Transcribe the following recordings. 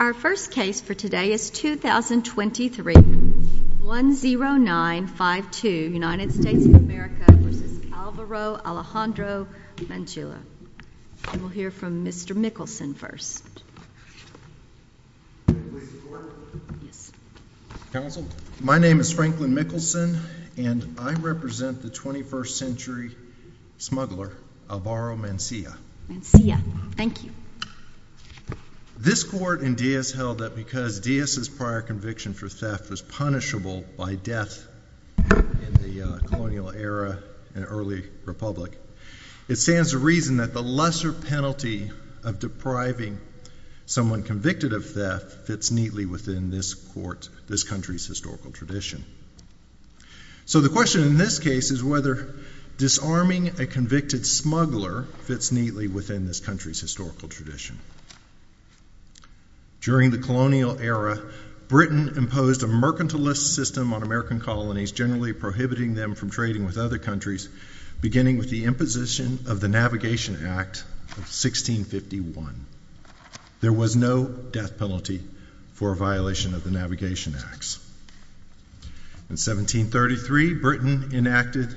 Our first case for today is 2023, 10952, United States of America v. Alvaro Alejandro Mancilla. We'll hear from Mr. Mickelson first. My name is Franklin Mickelson, and I represent the 21st century smuggler Alvaro Mancilla. This court in Diaz held that because Diaz's prior conviction for theft was punishable by death in the colonial era and early republic. It stands to reason that the lesser penalty of depriving someone convicted of theft fits neatly within this country's historical tradition. So the question in this case is whether disarming a convicted smuggler fits neatly within this country's historical tradition. During the colonial era, Britain imposed a mercantilist system on American colonies, generally prohibiting them from trading with other countries, beginning with the imposition of the Navigation Act of 1651. There was no death penalty for a violation of the Navigation Acts. In 1733, Britain enacted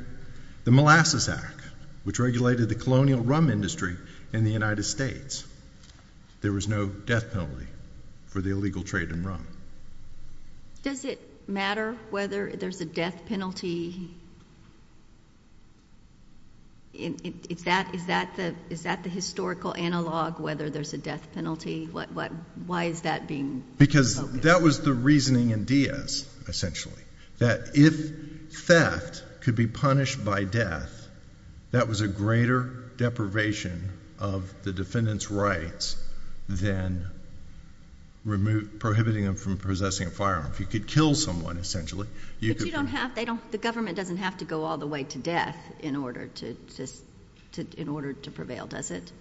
the Molasses Act, which regulated the colonial rum industry in the United States. There was no death penalty for the illegal trade in rum. Does it matter whether there's a death penalty? Is that the historical analog, whether there's a death penalty? Why is that being focused? Because that was the reasoning in Diaz, essentially. That if theft could be punished by death, that was a greater deprivation of the defendant's rights than prohibiting them from possessing a firearm. If you could kill someone, essentially. But the government doesn't have to go all the way to death in order to prevail, does it?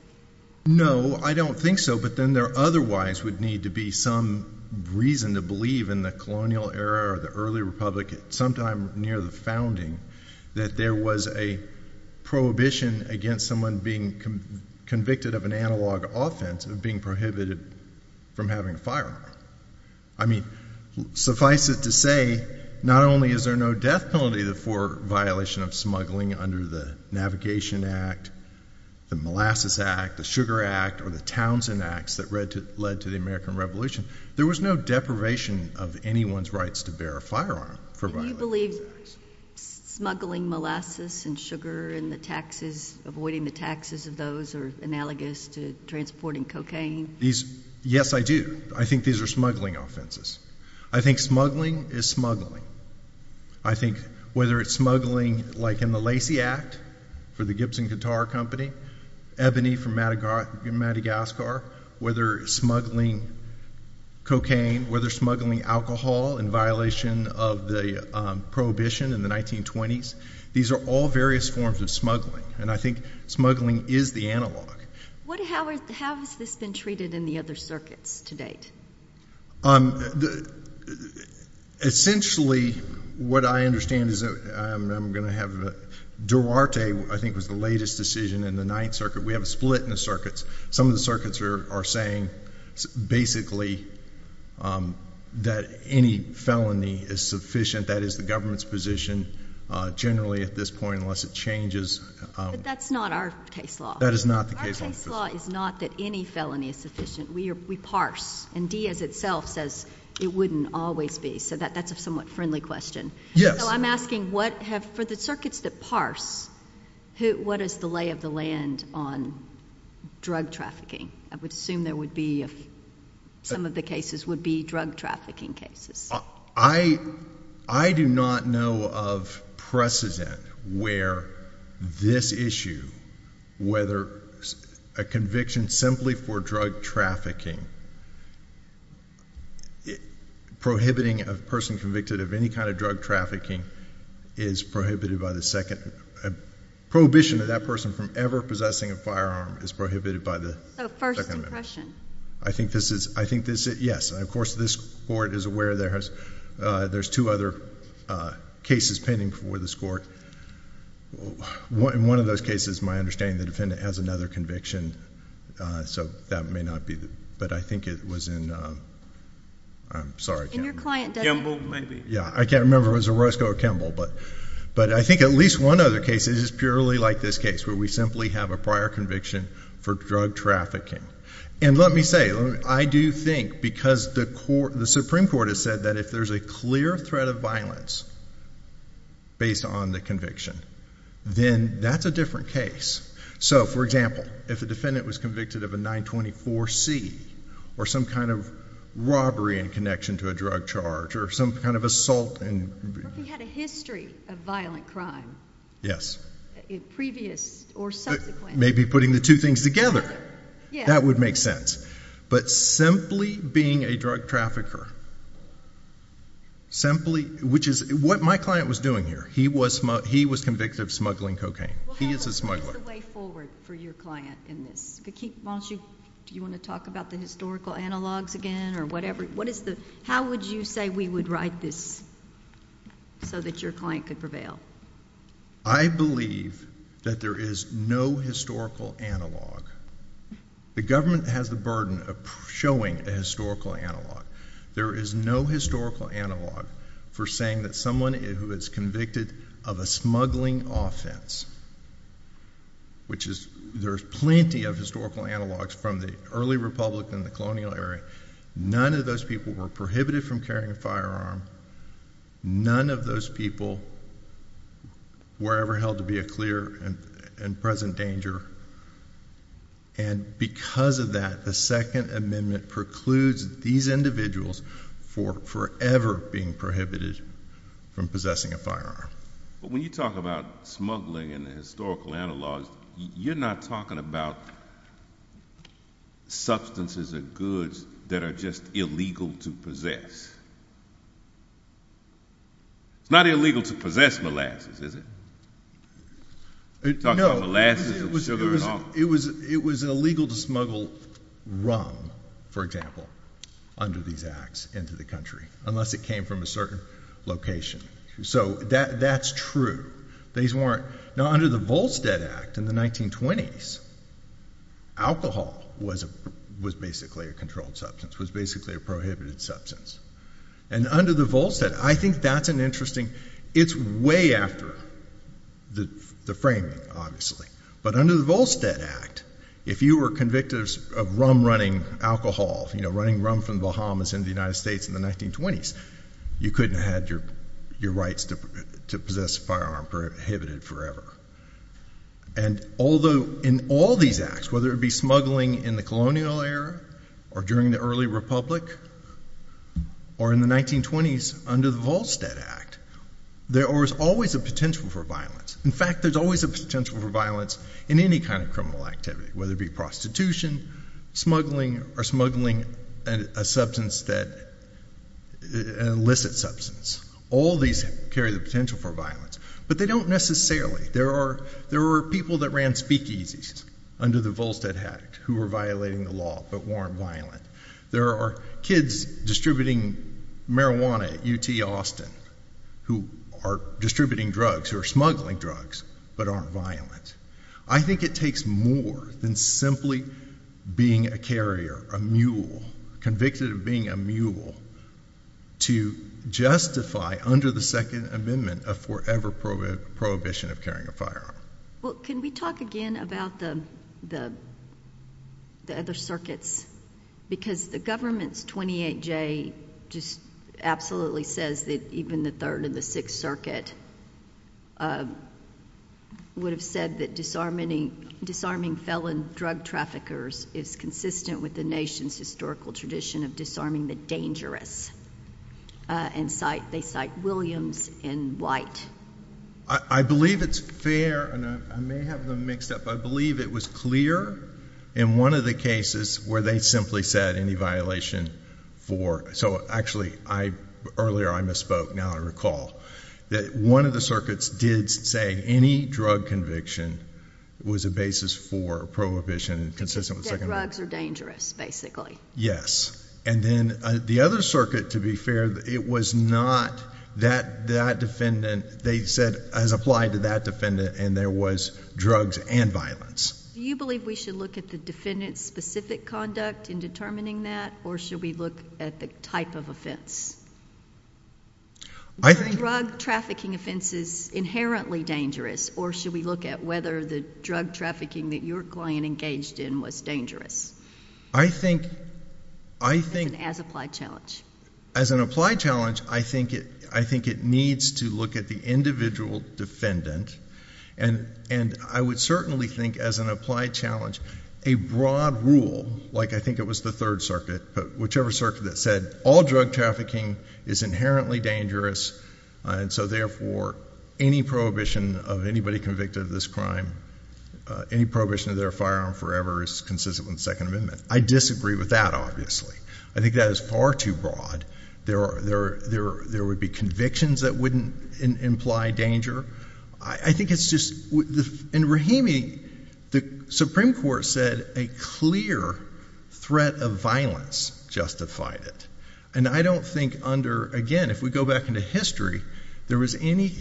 No, I don't think so. But then there otherwise would need to be some reason to believe in the colonial era or the early republic sometime near the founding that there was a prohibition against someone being convicted of an analog offense of being prohibited from having a firearm. I mean, suffice it to say, not only is there no death penalty for violation of smuggling under the Navigation Act, the Molasses Act, the Sugar Act, or the Townsend Acts that led to the American Revolution, there was no deprivation of anyone's rights to bear a firearm. Do you believe smuggling molasses and sugar and avoiding the taxes of those are analogous to transporting cocaine? Yes, I do. I think these are smuggling offenses. I think smuggling is smuggling. I think whether it's smuggling like in the Lacey Act for the Gibson Guitar Company, Ebony from Madagascar, whether smuggling cocaine, whether smuggling alcohol in violation of the prohibition in the 1920s, these are all various forms of smuggling. And I think smuggling is the analog. How has this been treated in the other circuits to date? Essentially, what I understand is that I'm going to have a—Durarte, I think, was the latest decision in the Ninth Circuit. We have a split in the circuits. Some of the circuits are saying basically that any felony is sufficient. That is the government's position generally at this point unless it changes. But that's not our case law. That is not the case law. Our case law is not that any felony is sufficient. We parse. And Diaz itself says it wouldn't always be. So that's a somewhat friendly question. Yes. So I'm asking what have—for the circuits that parse, what is the lay of the land on drug trafficking? I would assume there would be some of the cases would be drug trafficking cases. I do not know of precedent where this issue, whether a conviction simply for drug trafficking, prohibiting a person convicted of any kind of drug trafficking is prohibited by the second—prohibition of that person from ever possessing a firearm is prohibited by the Second Amendment. So first impression. I think this is—yes. And, of course, this Court is aware there's two other cases pending before this Court. In one of those cases, my understanding, the defendant has another conviction. So that may not be—but I think it was in—I'm sorry. In your client, Debbie. Kimball, maybe. Yeah. I can't remember if it was Orozco or Kimball. But I think at least one other case is purely like this case where we simply have a prior conviction for drug trafficking. And let me say, I do think because the Supreme Court has said that if there's a clear threat of violence based on the conviction, then that's a different case. So, for example, if a defendant was convicted of a 924C or some kind of robbery in connection to a drug charge or some kind of assault and— But he had a history of violent crime. Yes. Previous or subsequent. Maybe putting the two things together. Yeah. That would make sense. But simply being a drug trafficker, simply—which is what my client was doing here. He was convicted of smuggling cocaine. He is a smuggler. What is the way forward for your client in this? Do you want to talk about the historical analogs again or whatever? How would you say we would write this so that your client could prevail? I believe that there is no historical analog. The government has the burden of showing a historical analog. There is no historical analog for saying that someone who is convicted of a smuggling offense, which is— There's plenty of historical analogs from the early republic and the colonial era. None of those people were prohibited from carrying a firearm. None of those people were ever held to be a clear and present danger. And because of that, the Second Amendment precludes these individuals from forever being prohibited from possessing a firearm. But when you talk about smuggling and the historical analogs, you're not talking about substances or goods that are just illegal to possess. It's not illegal to possess molasses, is it? No. You're talking about molasses and sugar and alcohol. It was illegal to smuggle rum, for example, under these acts into the country unless it came from a certain location. So that's true. Now, under the Volstead Act in the 1920s, alcohol was basically a controlled substance, was basically a prohibited substance. And under the Volstead—I think that's an interesting—it's way after the framing, obviously. But under the Volstead Act, if you were convicted of rum-running alcohol, running rum from the Bahamas into the United States in the 1920s, you couldn't have had your rights to possess a firearm prohibited forever. And although in all these acts, whether it be smuggling in the colonial era or during the early republic or in the 1920s under the Volstead Act, there was always a potential for violence. In fact, there's always a potential for violence in any kind of criminal activity, whether it be prostitution, smuggling, or smuggling a substance that—an illicit substance. All these carry the potential for violence. But they don't necessarily. There were people that ran speakeasies under the Volstead Act who were violating the law but weren't violent. There are kids distributing marijuana at UT Austin who are distributing drugs, who are smuggling drugs, but aren't violent. I think it takes more than simply being a carrier, a mule, convicted of being a mule, to justify under the Second Amendment a forever prohibition of carrying a firearm. Well, can we talk again about the other circuits? Because the government's 28J just absolutely says that even the Third and the Sixth Circuit would have said that disarming felon drug traffickers is consistent with the nation's historical tradition of disarming the dangerous. And they cite Williams and White. I believe it's fair, and I may have them mixed up, but I believe it was clear in one of the cases where they simply said any violation for— so, actually, earlier I misspoke. Now I recall. One of the circuits did say any drug conviction was a basis for a prohibition consistent with the Second Amendment. That drugs are dangerous, basically. Yes. And then the other circuit, to be fair, it was not that defendant. They said, as applied to that defendant, and there was drugs and violence. Do you believe we should look at the defendant's specific conduct in determining that, or should we look at the type of offense? Are drug trafficking offenses inherently dangerous, or should we look at whether the drug trafficking that your client engaged in was dangerous? I think— As an applied challenge. As an applied challenge, I think it needs to look at the individual defendant. And I would certainly think, as an applied challenge, a broad rule, like I think it was the Third Circuit, but whichever circuit that said all drug trafficking is inherently dangerous, and so therefore any prohibition of anybody convicted of this crime, any prohibition of their firearm forever is consistent with the Second Amendment. I disagree with that, obviously. I think that is far too broad. There would be convictions that wouldn't imply danger. I think it's just—in Rahimi, the Supreme Court said a clear threat of violence justified it. And I don't think under—again, if we go back into history, there was any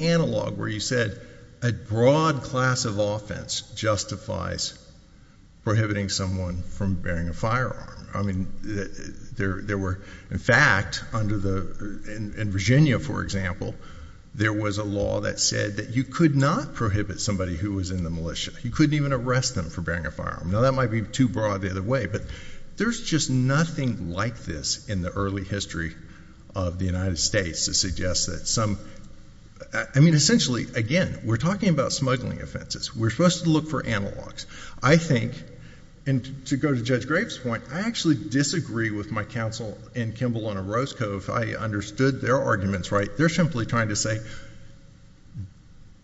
analog where you said a broad class of offense justifies prohibiting someone from bearing a firearm. I mean, there were—in fact, in Virginia, for example, there was a law that said that you could not prohibit somebody who was in the militia. You couldn't even arrest them for bearing a firearm. Now, that might be too broad the other way, but there's just nothing like this in the early history of the United States to suggest that some— I mean, essentially, again, we're talking about smuggling offenses. We're supposed to look for analogs. I think—and to go to Judge Graves' point, I actually disagree with my counsel in Kimball on Orozco. If I understood their arguments right, they're simply trying to say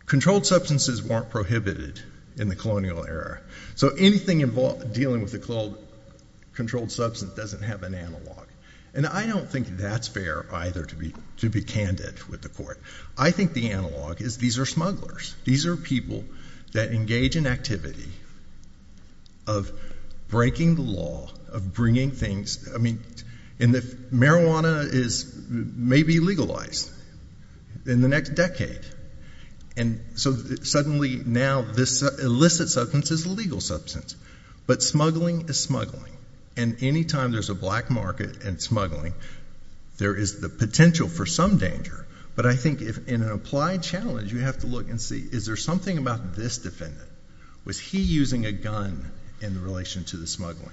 controlled substances weren't prohibited in the colonial era. So anything dealing with a controlled substance doesn't have an analog. And I don't think that's fair either to be candid with the court. I think the analog is these are smugglers. These are people that engage in activity of breaking the law, of bringing things—I mean, marijuana is—may be legalized in the next decade. And so suddenly now this illicit substance is a legal substance. But smuggling is smuggling. And anytime there's a black market and smuggling, there is the potential for some danger. But I think in an applied challenge, you have to look and see, is there something about this defendant? Was he using a gun in relation to the smuggling?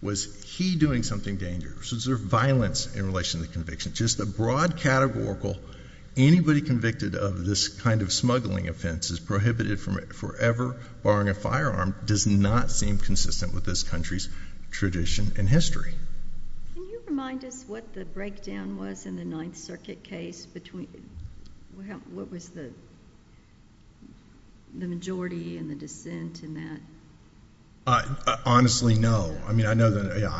Was he doing something dangerous? Was there violence in relation to the conviction? Just a broad categorical, anybody convicted of this kind of smuggling offense is prohibited forever, barring a firearm does not seem consistent with this country's tradition and history. Can you remind us what the breakdown was in the Ninth Circuit case between—what was the majority and the dissent in that? Honestly, no. I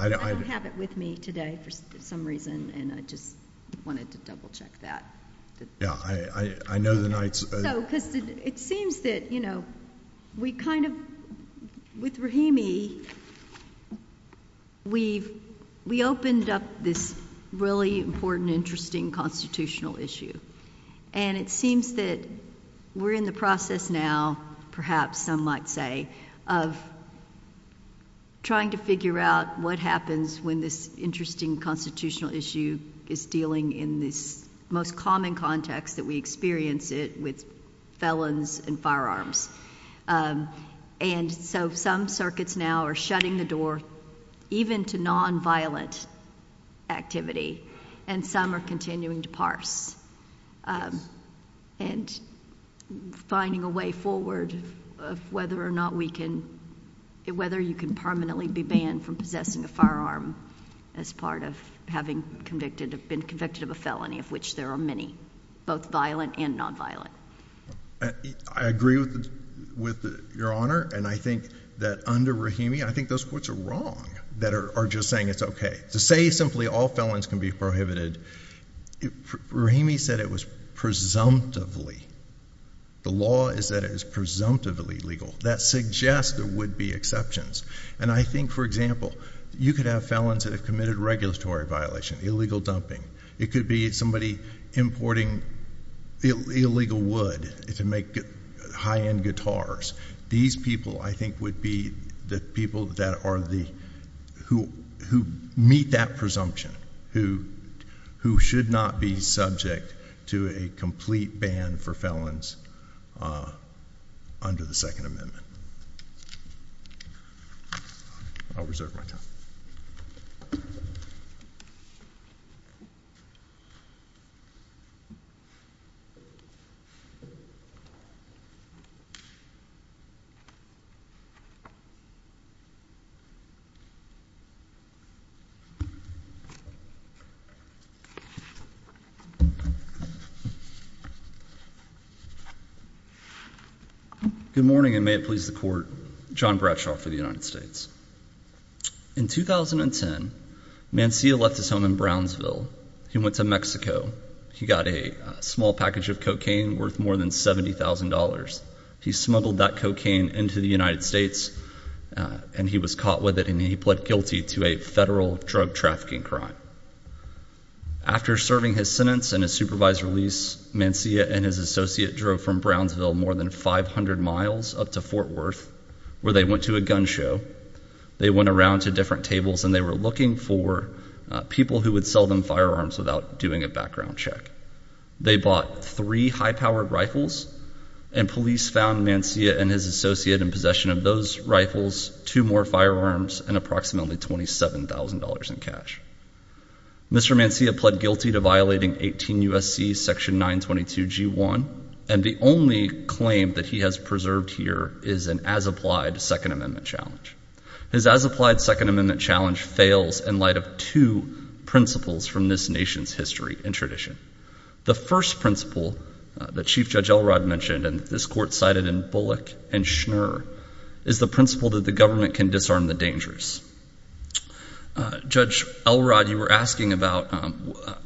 don't have it with me today for some reason, and I just wanted to double-check that. Yeah, I know the Ninth— So, because it seems that, you know, we kind of—with Rahimi, we opened up this really important, interesting constitutional issue. And it seems that we're in the process now, perhaps some might say, of trying to figure out what happens when this interesting constitutional issue is dealing in this most common context that we experience it with felons and firearms. And so some circuits now are shutting the door even to nonviolent activity, and some are continuing to parse and finding a way forward of whether or not we can—whether you can permanently be banned from possessing a firearm as part of having been convicted of a felony, of which there are many, both violent and nonviolent. I agree with Your Honor, and I think that under Rahimi, I think those courts are wrong that are just saying it's okay. To say simply all felons can be prohibited, Rahimi said it was presumptively. The law is that it is presumptively legal. That suggests there would be exceptions. And I think, for example, you could have felons that have committed regulatory violation, illegal dumping. It could be somebody importing illegal wood to make high-end guitars. These people, I think, would be the people that are the—who meet that presumption, who should not be subject to a complete ban for felons under the Second Amendment. I'll reserve my time. Good morning, and may it please the Court. John Bradshaw for the United States. In 2010, Mancia left his home in Brownsville. He went to Mexico. He got a small package of cocaine worth more than $70,000. He smuggled that cocaine into the United States, and he was caught with it, and he pled guilty to a federal drug trafficking crime. After serving his sentence and his supervised release, Mancia and his associate drove from Brownsville more than 500 miles up to Fort Worth, where they went to a gun show. They went around to different tables, and they were looking for people who would sell them firearms without doing a background check. They bought three high-powered rifles, and police found Mancia and his associate in possession of those rifles, two more firearms, and approximately $27,000 in cash. Mr. Mancia pled guilty to violating 18 U.S.C. section 922 G1, and the only claim that he has preserved here is an as-applied Second Amendment challenge. His as-applied Second Amendment challenge fails in light of two principles from this nation's history and tradition. The first principle that Chief Judge Elrod mentioned, and this Court cited in Bullock and Schnur, is the principle that the government can disarm the dangerous. Judge Elrod, you were asking about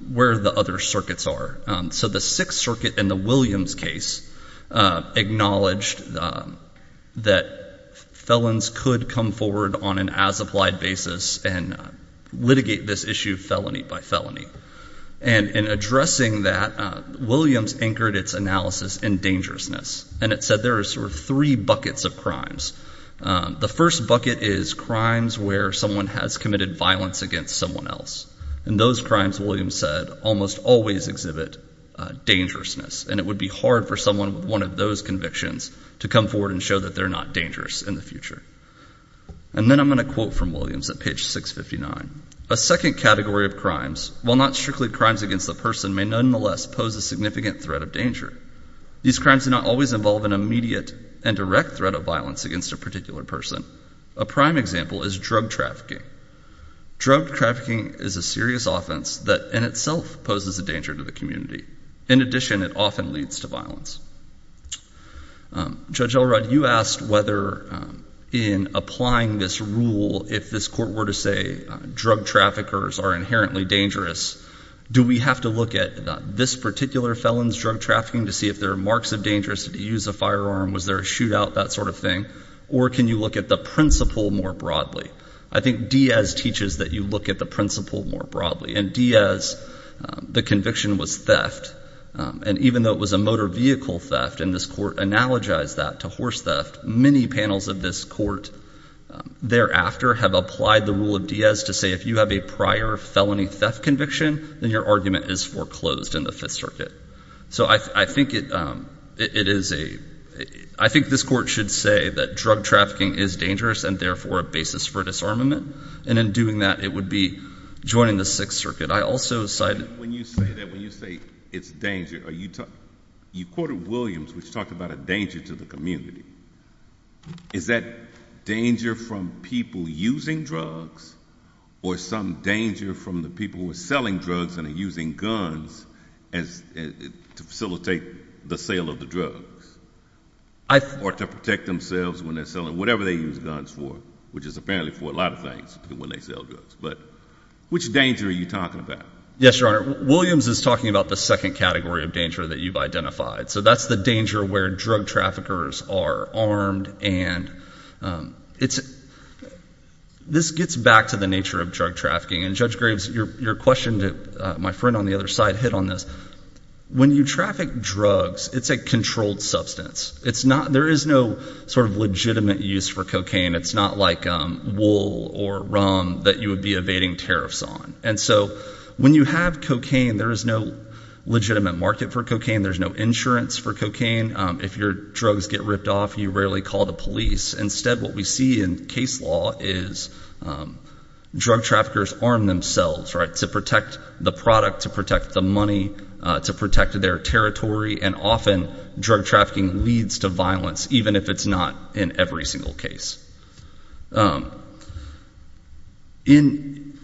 where the other circuits are. So the Sixth Circuit in the Williams case acknowledged that felons could come forward on an as-applied basis and litigate this issue felony by felony. And in addressing that, Williams anchored its analysis in dangerousness, and it said there are sort of three buckets of crimes. The first bucket is crimes where someone has committed violence against someone else, and those crimes, Williams said, almost always exhibit dangerousness, and it would be hard for someone with one of those convictions to come forward and show that they're not dangerous in the future. And then I'm going to quote from Williams at page 659. A second category of crimes, while not strictly crimes against the person, may nonetheless pose a significant threat of danger. These crimes do not always involve an immediate and direct threat of violence against a particular person. A prime example is drug trafficking. Drug trafficking is a serious offense that in itself poses a danger to the community. In addition, it often leads to violence. Judge Elrod, you asked whether in applying this rule, if this court were to say drug traffickers are inherently dangerous, do we have to look at this particular felon's drug trafficking to see if there are marks of danger, did he use a firearm, was there a shootout, that sort of thing, or can you look at the principle more broadly? I think Diaz teaches that you look at the principle more broadly, and Diaz, the conviction was theft, and even though it was a motor vehicle theft and this court analogized that to horse theft, many panels of this court thereafter have applied the rule of Diaz to say if you have a prior felony theft conviction, then your argument is foreclosed in the Fifth Circuit. So I think this court should say that drug trafficking is dangerous and therefore a basis for disarmament, and in doing that it would be joining the Sixth Circuit. When you say it's danger, you quoted Williams, which talked about a danger to the community. Is that danger from people using drugs or some danger from the people who are selling drugs and are using guns to facilitate the sale of the drugs or to protect themselves when they're selling whatever they use guns for, which is apparently for a lot of things when they sell drugs, but which danger are you talking about? Yes, Your Honor. Williams is talking about the second category of danger that you've identified, so that's the danger where drug traffickers are armed, and this gets back to the nature of drug trafficking, and Judge Graves, your question to my friend on the other side hit on this. When you traffic drugs, it's a controlled substance. There is no sort of legitimate use for cocaine. It's not like wool or rum that you would be evading tariffs on. And so when you have cocaine, there is no legitimate market for cocaine. There's no insurance for cocaine. If your drugs get ripped off, you rarely call the police. Instead, what we see in case law is drug traffickers arm themselves to protect the product, to protect the money, to protect their territory, and often drug trafficking leads to violence, even if it's not in every single case. In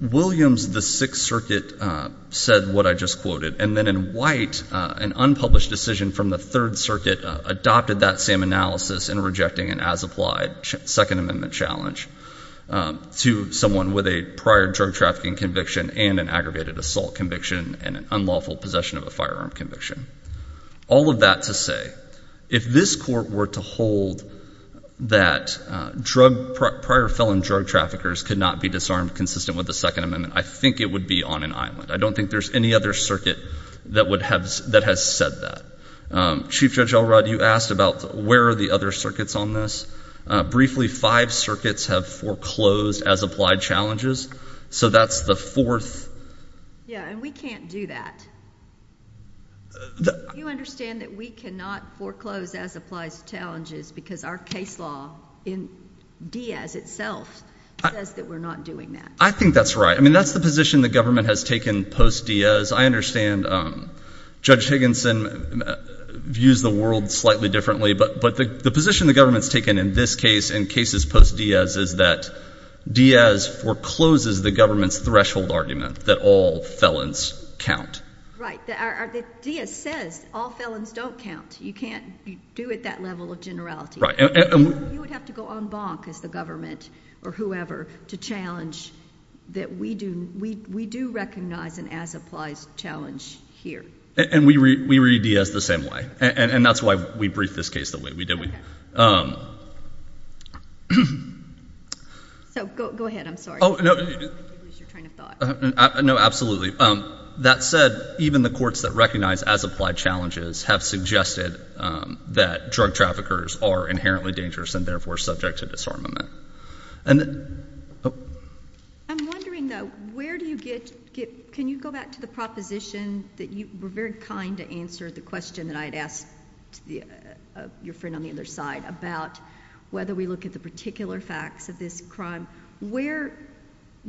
Williams, the Sixth Circuit said what I just quoted, and then in White, an unpublished decision from the Third Circuit adopted that same analysis in rejecting an as-applied Second Amendment challenge to someone with a prior drug trafficking conviction and an aggravated assault conviction and an unlawful possession of a firearm conviction. All of that to say, if this court were to hold that prior felon drug traffickers could not be disarmed consistent with the Second Amendment, I think it would be on an island. I don't think there's any other circuit that has said that. Chief Judge Elrod, you asked about where are the other circuits on this. Briefly, five circuits have foreclosed as-applied challenges, so that's the fourth. Yeah, and we can't do that. You understand that we cannot foreclose as-applied challenges because our case law in Diaz itself says that we're not doing that. I think that's right. I mean, that's the position the government has taken post-Diaz. I understand Judge Higginson views the world slightly differently, but the position the government has taken in this case and cases post-Diaz is that Diaz forecloses the government's threshold argument that all felons count. Right. Diaz says all felons don't count. You can't do it at that level of generality. Right. You would have to go en banc as the government or whoever to challenge that we do recognize an as-applies challenge here. We read Diaz the same way, and that's why we briefed this case the way we did. Go ahead. I'm sorry. No, absolutely. That said, even the courts that recognize as-applied challenges have suggested that drug traffickers are inherently dangerous and therefore subject to disarmament. I'm wondering, though, can you go back to the proposition that you were very kind to answer the question that I had asked your friend on the other side about whether we look at the particular facts of this crime.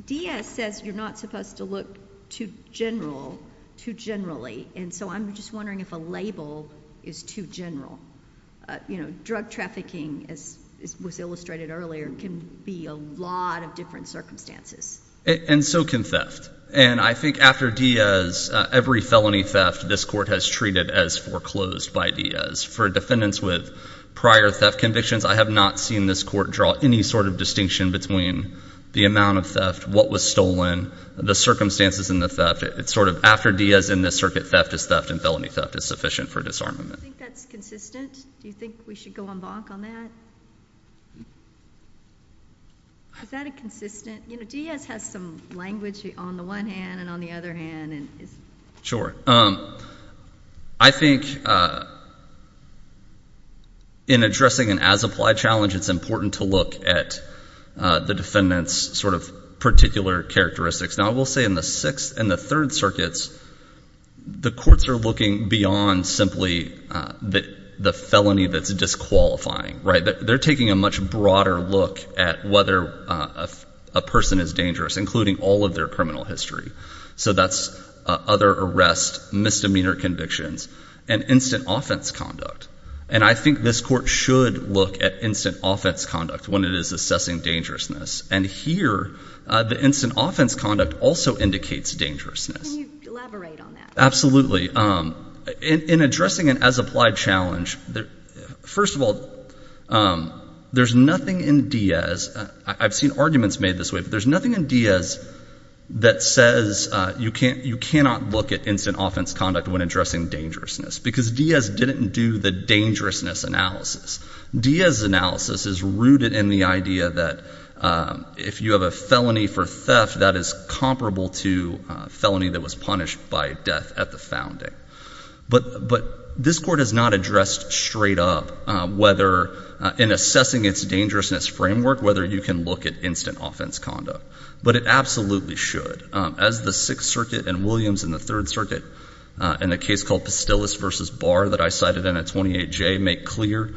Diaz says you're not supposed to look too generally, and so I'm just wondering if a label is too general. Drug trafficking, as was illustrated earlier, can be a lot of different circumstances. And so can theft. And I think after Diaz, every felony theft this court has treated as foreclosed by Diaz. For defendants with prior theft convictions, I have not seen this court draw any sort of distinction between the amount of theft, what was stolen, the circumstances in the theft. It's sort of after Diaz in this circuit, theft is theft, and felony theft is sufficient for disarmament. Do you think that's consistent? Do you think we should go on bonk on that? Is that consistent? Diaz has some language on the one hand and on the other hand. Sure. I think in addressing an as-applied challenge, it's important to look at the defendant's sort of particular characteristics. Now, I will say in the Sixth and the Third Circuits, the courts are looking beyond simply the felony that's disqualifying. They're taking a much broader look at whether a person is dangerous, including all of their criminal history. So that's other arrests, misdemeanor convictions, and instant offense conduct. And I think this court should look at instant offense conduct when it is assessing dangerousness. And here, the instant offense conduct also indicates dangerousness. Can you elaborate on that? Absolutely. In addressing an as-applied challenge, first of all, there's nothing in Diaz. I've seen arguments made this way, but there's nothing in Diaz that says you cannot look at instant offense conduct when addressing dangerousness, because Diaz didn't do the dangerousness analysis. Diaz's analysis is rooted in the idea that if you have a felony for theft, that is comparable to a felony that was punished by death at the founding. But this court has not addressed straight up whether, in assessing its dangerousness framework, whether you can look at instant offense conduct. But it absolutely should. As the Sixth Circuit and Williams and the Third Circuit, in a case called Pastilles v. Barr that I cited in a 28J, make clear,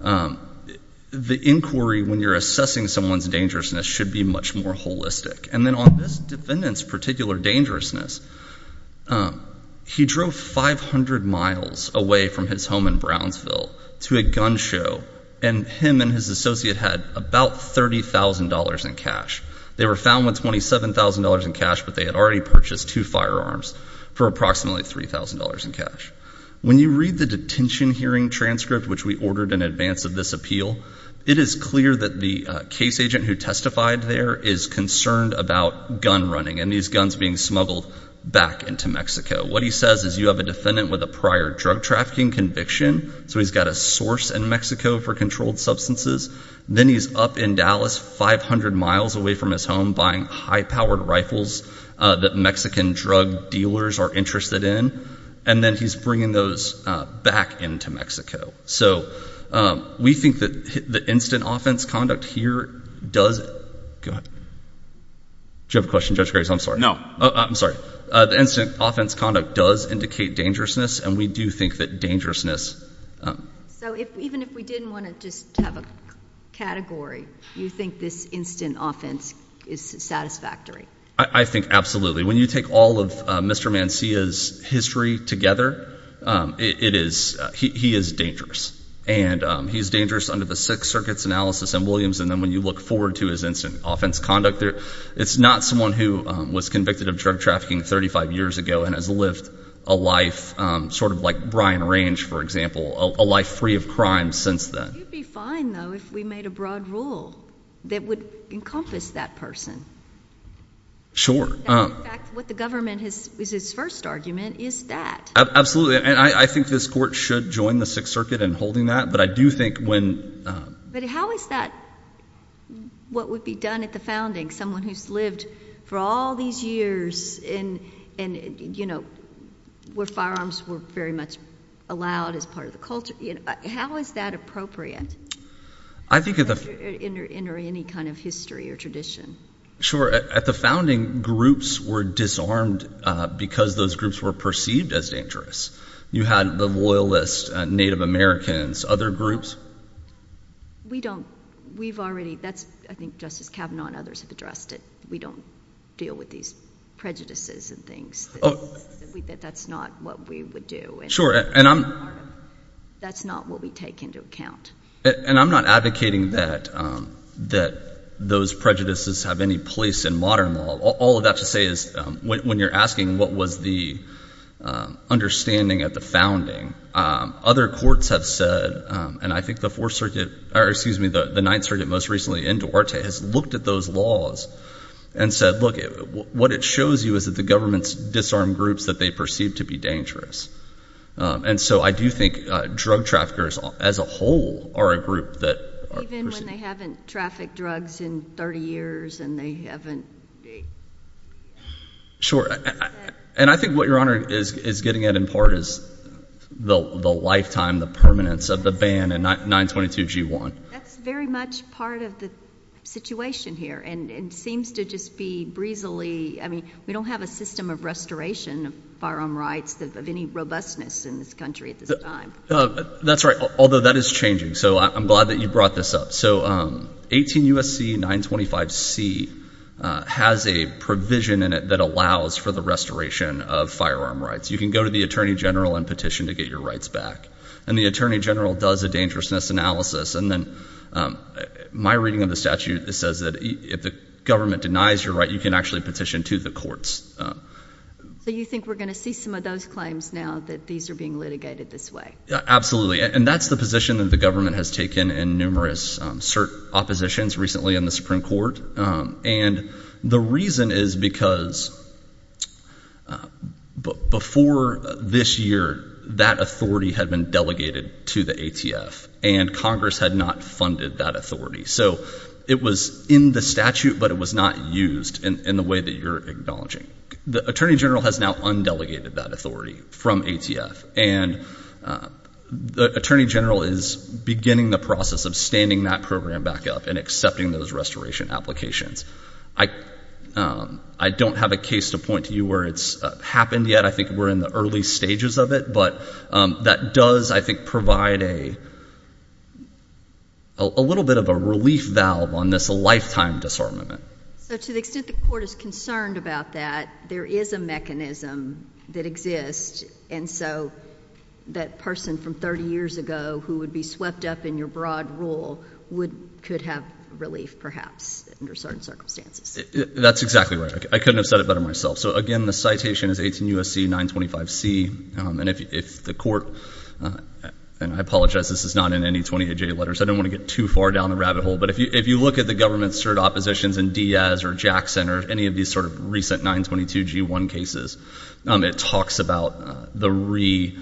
the inquiry when you're assessing someone's dangerousness should be much more holistic. And then on this defendant's particular dangerousness, he drove 500 miles away from his home in Brownsville to a gun show, and him and his associate had about $30,000 in cash. They were found with $27,000 in cash, but they had already purchased two firearms for approximately $3,000 in cash. When you read the detention hearing transcript, which we ordered in advance of this appeal, it is clear that the case agent who testified there is concerned about gun running and these guns being smuggled back into Mexico. What he says is you have a defendant with a prior drug trafficking conviction, so he's got a source in Mexico for controlled substances. Then he's up in Dallas, 500 miles away from his home, buying high-powered rifles that Mexican drug dealers are interested in, and then he's bringing those back into Mexico. So we think that the instant offense conduct here does it. Go ahead. Do you have a question, Judge Graves? I'm sorry. I'm sorry. The instant offense conduct does indicate dangerousness, and we do think that dangerousness. So even if we didn't want to just have a category, you think this instant offense is satisfactory? I think absolutely. When you take all of Mr. Mancilla's history together, he is dangerous, and he's dangerous under the Sixth Circuit's analysis in Williams, and then when you look forward to his instant offense conduct, it's not someone who was convicted of drug trafficking 35 years ago and has lived a life sort of like Brian Range, for example, a life free of crime since then. It would be fine, though, if we made a broad rule that would encompass that person. Sure. In fact, what the government is its first argument is that. Absolutely, and I think this court should join the Sixth Circuit in holding that, but I do think when – But how is that what would be done at the founding, someone who's lived for all these years where firearms were very much allowed as part of the culture? How is that appropriate in any kind of history or tradition? Sure. At the founding, groups were disarmed because those groups were perceived as dangerous. You had the Loyalist Native Americans, other groups. We don't – we've already – that's – I think Justice Kavanaugh and others have addressed it. We don't deal with these prejudices and things. That's not what we would do. Sure, and I'm – That's not what we take into account. And I'm not advocating that those prejudices have any place in modern law. All of that to say is when you're asking what was the understanding at the founding, other courts have said – and I think the Fourth Circuit – or, excuse me, the Ninth Circuit most recently in Duarte has looked at those laws and said, look, what it shows you is that the governments disarm groups that they perceive to be dangerous. And so I do think drug traffickers as a whole are a group that are perceived – Even when they haven't trafficked drugs in 30 years and they haven't – Sure. And I think what Your Honor is getting at in part is the lifetime, the permanence of the ban and 922G1. That's very much part of the situation here and seems to just be breezily – I mean, we don't have a system of restoration of firearm rights of any robustness in this country at this time. That's right, although that is changing. So I'm glad that you brought this up. So 18 U.S.C. 925C has a provision in it that allows for the restoration of firearm rights. You can go to the attorney general and petition to get your rights back. And the attorney general does a dangerousness analysis. And then my reading of the statute says that if the government denies your right, you can actually petition to the courts. So you think we're going to see some of those claims now that these are being litigated this way? Absolutely. And that's the position that the government has taken in numerous cert oppositions recently in the Supreme Court. And the reason is because before this year, that authority had been delegated to the ATF. And Congress had not funded that authority. So it was in the statute, but it was not used in the way that you're acknowledging. The attorney general has now undelegated that authority from ATF. And the attorney general is beginning the process of standing that program back up and accepting those restoration applications. I don't have a case to point to you where it's happened yet. I think we're in the early stages of it. But that does, I think, provide a little bit of a relief valve on this lifetime disarmament. So to the extent the court is concerned about that, there is a mechanism that exists. And so that person from 30 years ago who would be swept up in your broad rule could have relief perhaps under certain circumstances. That's exactly right. I couldn't have said it better myself. So, again, the citation is 18 U.S.C. 925C. And if the court, and I apologize, this is not in any 28-J letters. I don't want to get too far down the rabbit hole. But if you look at the government-served oppositions in Diaz or Jackson or any of these sort of recent 922G1 cases, it talks about the reinvigoration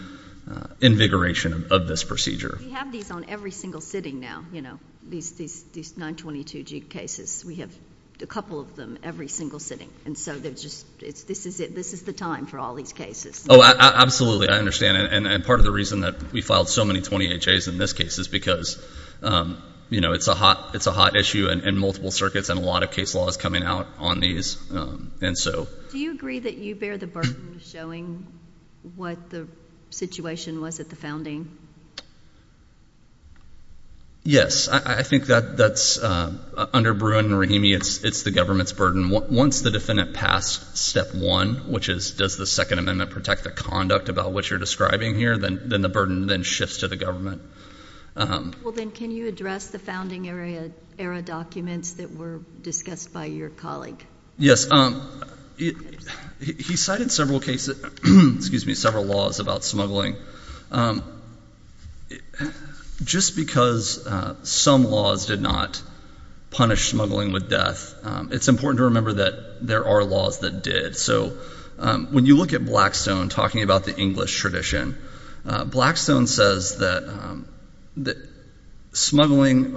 of this procedure. We have these on every single sitting now, you know, these 922G cases. We have a couple of them every single sitting. And so this is the time for all these cases. Oh, absolutely. I understand. And part of the reason that we filed so many 28-Js in this case is because, you know, it's a hot issue in multiple circuits, and a lot of case law is coming out on these. Do you agree that you bear the burden of showing what the situation was at the founding? Yes. I think that's under Bruin and Rahimi, it's the government's burden. Once the defendant passed step one, which is does the Second Amendment protect the conduct about what you're describing here, then the burden then shifts to the government. Well, then can you address the founding-era documents that were discussed by your colleague? Yes. He cited several laws about smuggling. Just because some laws did not punish smuggling with death, it's important to remember that there are laws that did. So when you look at Blackstone talking about the English tradition, Blackstone says that smuggling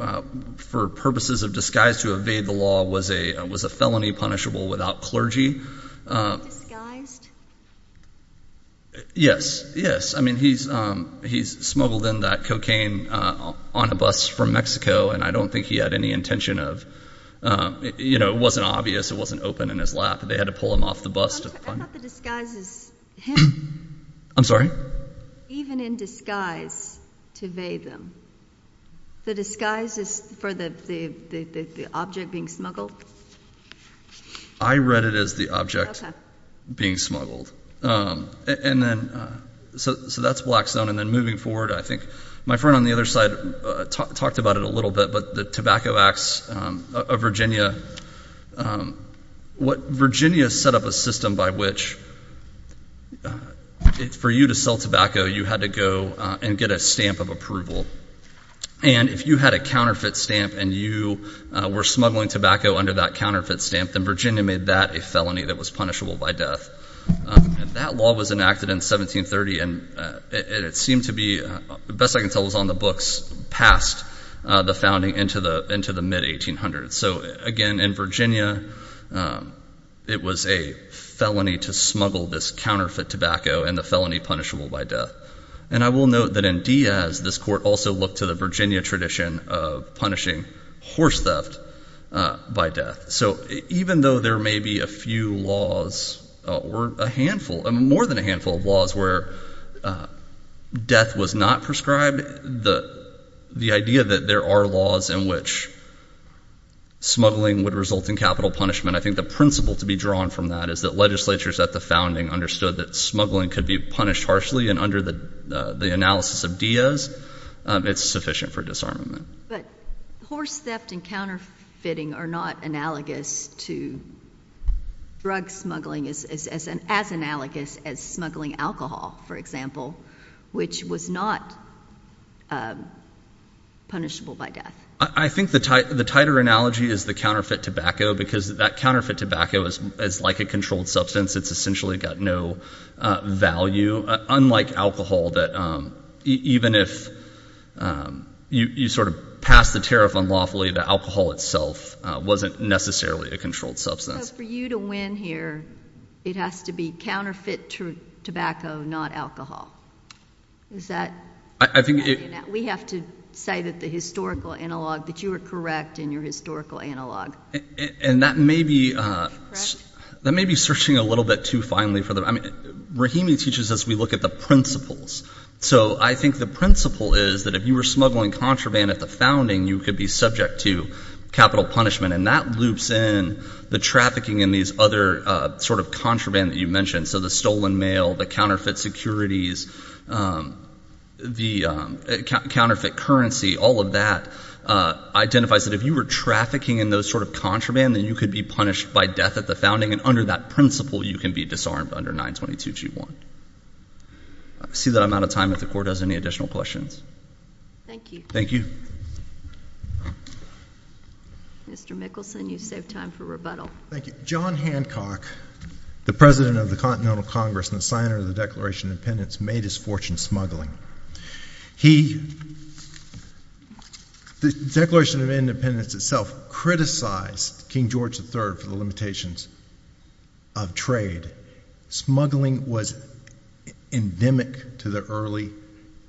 for purposes of disguise to evade the law was a felony punishable without clergy. Disguised? Yes. I mean, he's smuggled in that cocaine on a bus from Mexico, and I don't think he had any intention of, you know, it wasn't obvious, it wasn't open in his lap. They had to pull him off the bus to find him. I thought the disguise is him. I'm sorry? Even in disguise to evade them. The disguise is for the object being smuggled? I read it as the object being smuggled. So that's Blackstone. And then moving forward, I think my friend on the other side talked about it a little bit, but the Tobacco Acts of Virginia, what Virginia set up a system by which for you to sell tobacco, you had to go and get a stamp of approval. And if you had a counterfeit stamp and you were smuggling tobacco under that counterfeit stamp, then Virginia made that a felony that was punishable by death. That law was enacted in 1730, and it seemed to be, best I can tell, it was on the books past the founding into the mid-1800s. So, again, in Virginia, it was a felony to smuggle this counterfeit tobacco, and the felony punishable by death. And I will note that in Diaz, this court also looked to the Virginia tradition of punishing horse theft by death. So even though there may be a few laws or a handful, more than a handful of laws where death was not prescribed, the idea that there are laws in which smuggling would result in capital punishment, I think the principle to be drawn from that is that legislatures at the founding understood that smuggling could be punished harshly, and under the analysis of Diaz, it's sufficient for disarmament. But horse theft and counterfeiting are not analogous to drug smuggling as analogous as smuggling alcohol, for example, which was not punishable by death. I think the tighter analogy is the counterfeit tobacco because that counterfeit tobacco is like a controlled substance. It's essentially got no value, unlike alcohol, that even if you sort of pass the tariff unlawfully, the alcohol itself wasn't necessarily a controlled substance. So for you to win here, it has to be counterfeit tobacco, not alcohol. Is that how you do that? We have to say that the historical analog, that you are correct in your historical analog. And that may be searching a little bit too finely. Rahimi teaches us we look at the principles. So I think the principle is that if you were smuggling contraband at the founding, you could be subject to capital punishment, and that loops in the trafficking and these other sort of contraband that you mentioned, so the stolen mail, the counterfeit securities, the counterfeit currency, all of that identifies that if you were trafficking in those sort of contraband, then you could be punished by death at the founding, and under that principle, you can be disarmed under 922G1. I see that I'm out of time. If the Court has any additional questions. Thank you. Thank you. Mr. Mickelson, you saved time for rebuttal. Thank you. John Hancock, the President of the Continental Congress and the signer of the Declaration of Independence, made his fortune smuggling. He, the Declaration of Independence itself criticized King George III for the limitations of trade. Smuggling was endemic to the early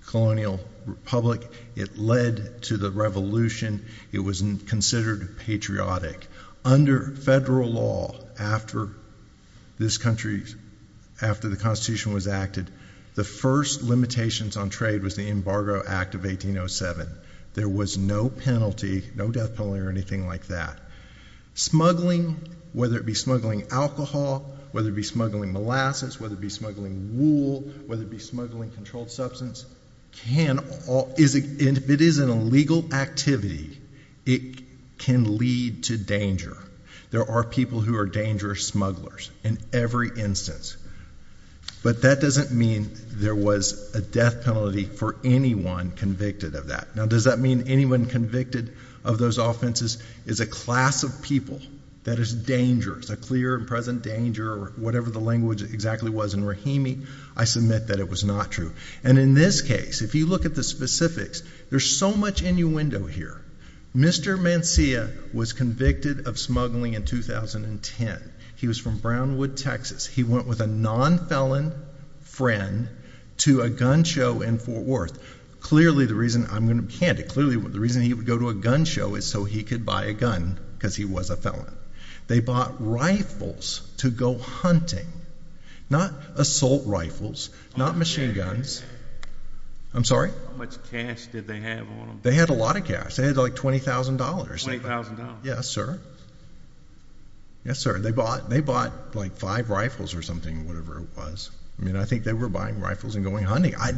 colonial republic. It led to the revolution. It was considered patriotic. Under federal law, after this country, after the Constitution was acted, the first limitations on trade was the Embargo Act of 1807. There was no penalty, no death penalty or anything like that. Smuggling, whether it be smuggling alcohol, whether it be smuggling molasses, whether it be smuggling wool, whether it be smuggling controlled substance, if it is an illegal activity, it can lead to danger. There are people who are dangerous smugglers in every instance. But that doesn't mean there was a death penalty for anyone convicted of that. Now, does that mean anyone convicted of those offenses is a class of people that is dangerous, a clear and present danger or whatever the language exactly was. And Rahimi, I submit that it was not true. And in this case, if you look at the specifics, there's so much innuendo here. Mr. Mancia was convicted of smuggling in 2010. He was from Brownwood, Texas. He went with a non-felon friend to a gun show in Fort Worth. Clearly the reason, I'm going to be candid, clearly the reason he would go to a gun show is so he could buy a gun, because he was a felon. They bought rifles to go hunting, not assault rifles, not machine guns. I'm sorry? How much cash did they have on them? They had a lot of cash. They had like $20,000. $20,000? Yes, sir. Yes, sir. They bought like five rifles or something, whatever it was. I mean, I think they were buying rifles and going hunting. I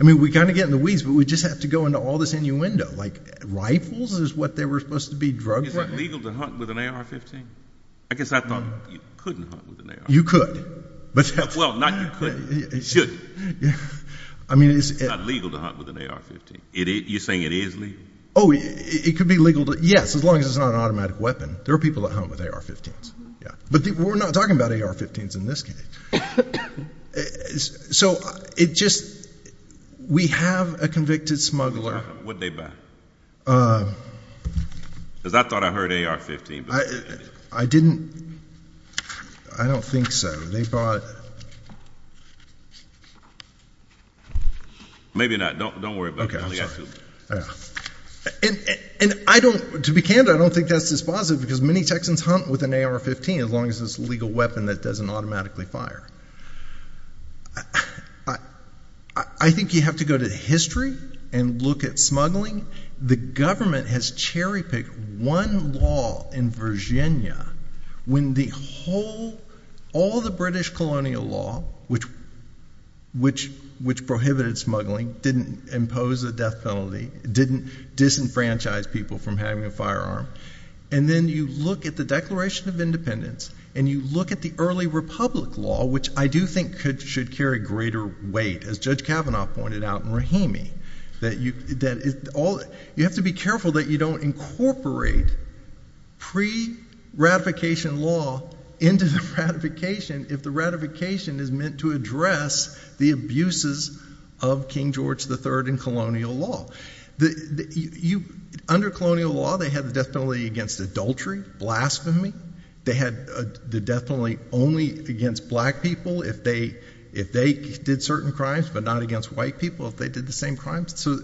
mean, we kind of get in the weeds, but we just have to go into all this innuendo. Like, rifles is what they were supposed to be drug trafficking? Is it legal to hunt with an AR-15? I guess I thought you couldn't hunt with an AR-15. You could. Well, not you couldn't. You should. It's not legal to hunt with an AR-15. You're saying it is legal? Oh, it could be legal. Yes, as long as it's not an automatic weapon. There are people that hunt with AR-15s. But we're not talking about AR-15s in this case. So it just, we have a convicted smuggler. What did they buy? Because I thought I heard AR-15. I didn't. I don't think so. They bought. Maybe not. Don't worry about it. Okay, I'm sorry. And I don't, to be candid, I don't think that's dispositive because many Texans hunt with an AR-15, as long as it's a legal weapon that doesn't automatically fire. I think you have to go to history and look at smuggling. The government has cherry-picked one law in Virginia when the whole, all the British colonial law, which prohibited smuggling, didn't impose a death penalty, didn't disenfranchise people from having a firearm. And then you look at the Declaration of Independence and you look at the early republic law, which I do think should carry greater weight, as Judge Kavanaugh pointed out in Rahimi, that you have to be careful that you don't incorporate pre-ratification law into the ratification if the ratification is meant to address the abuses of King George III and colonial law. Under colonial law, they had the death penalty against adultery, blasphemy. They had the death penalty only against black people if they did certain crimes, but not against white people if they did the same crimes. So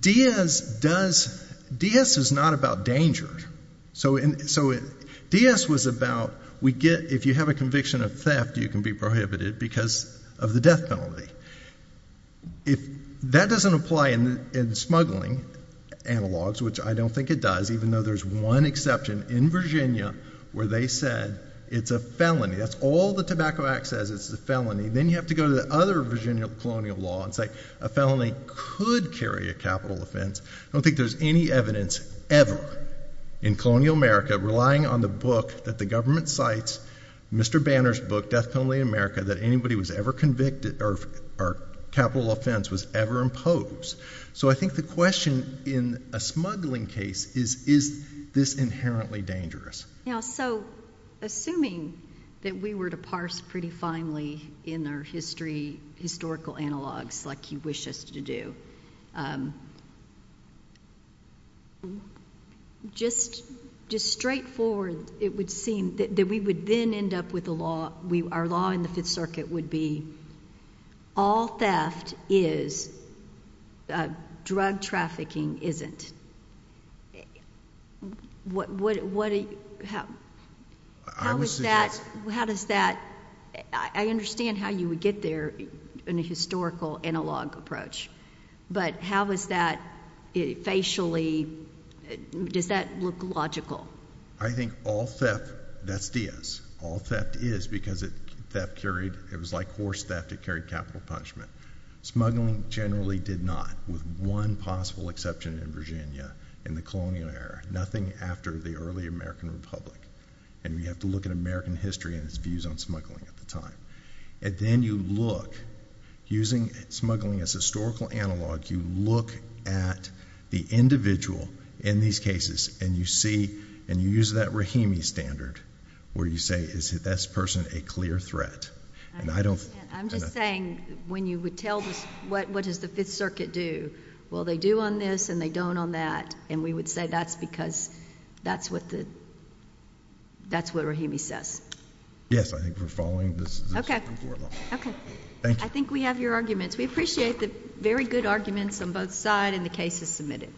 Diaz does, Diaz is not about danger. So Diaz was about we get, if you have a conviction of theft, you can be prohibited because of the death penalty. If that doesn't apply in smuggling analogs, which I don't think it does, even though there's one exception in Virginia where they said it's a felony, that's all the Tobacco Act says is a felony, then you have to go to the other Virginia colonial law and say a felony could carry a capital offense. I don't think there's any evidence ever in colonial America relying on the book that the government cites, Mr. Banner's book, Death Penalty in America, that anybody was ever convicted or capital offense was ever imposed. So I think the question in a smuggling case is, is this inherently dangerous? So assuming that we were to parse pretty finely in our history, historical analogs like you wish us to do, just straightforward, it would seem that we would then end up with a law, our law in the Fifth Circuit would be, all theft is, drug trafficking isn't. How does that, I understand how you would get there in a historical analog approach, but how does that facially, does that look logical? I think all theft, that's Diaz, all theft is because it was like horse theft, it carried capital punishment. Smuggling generally did not, with one possible exception in Virginia in the colonial era, nothing after the early American Republic, and we have to look at American history and its views on smuggling at the time. And then you look, using smuggling as a historical analog, you look at the individual in these cases, and you see, and you use that Rahimi standard, where you say, is this person a clear threat? I'm just saying, when you would tell this, what does the Fifth Circuit do? Well, they do on this and they don't on that, and we would say that's because that's what Rahimi says. Yes, I think we're following this historical analog. Okay. Thank you. I think we have your arguments. We appreciate the very good arguments on both sides and the cases submitted.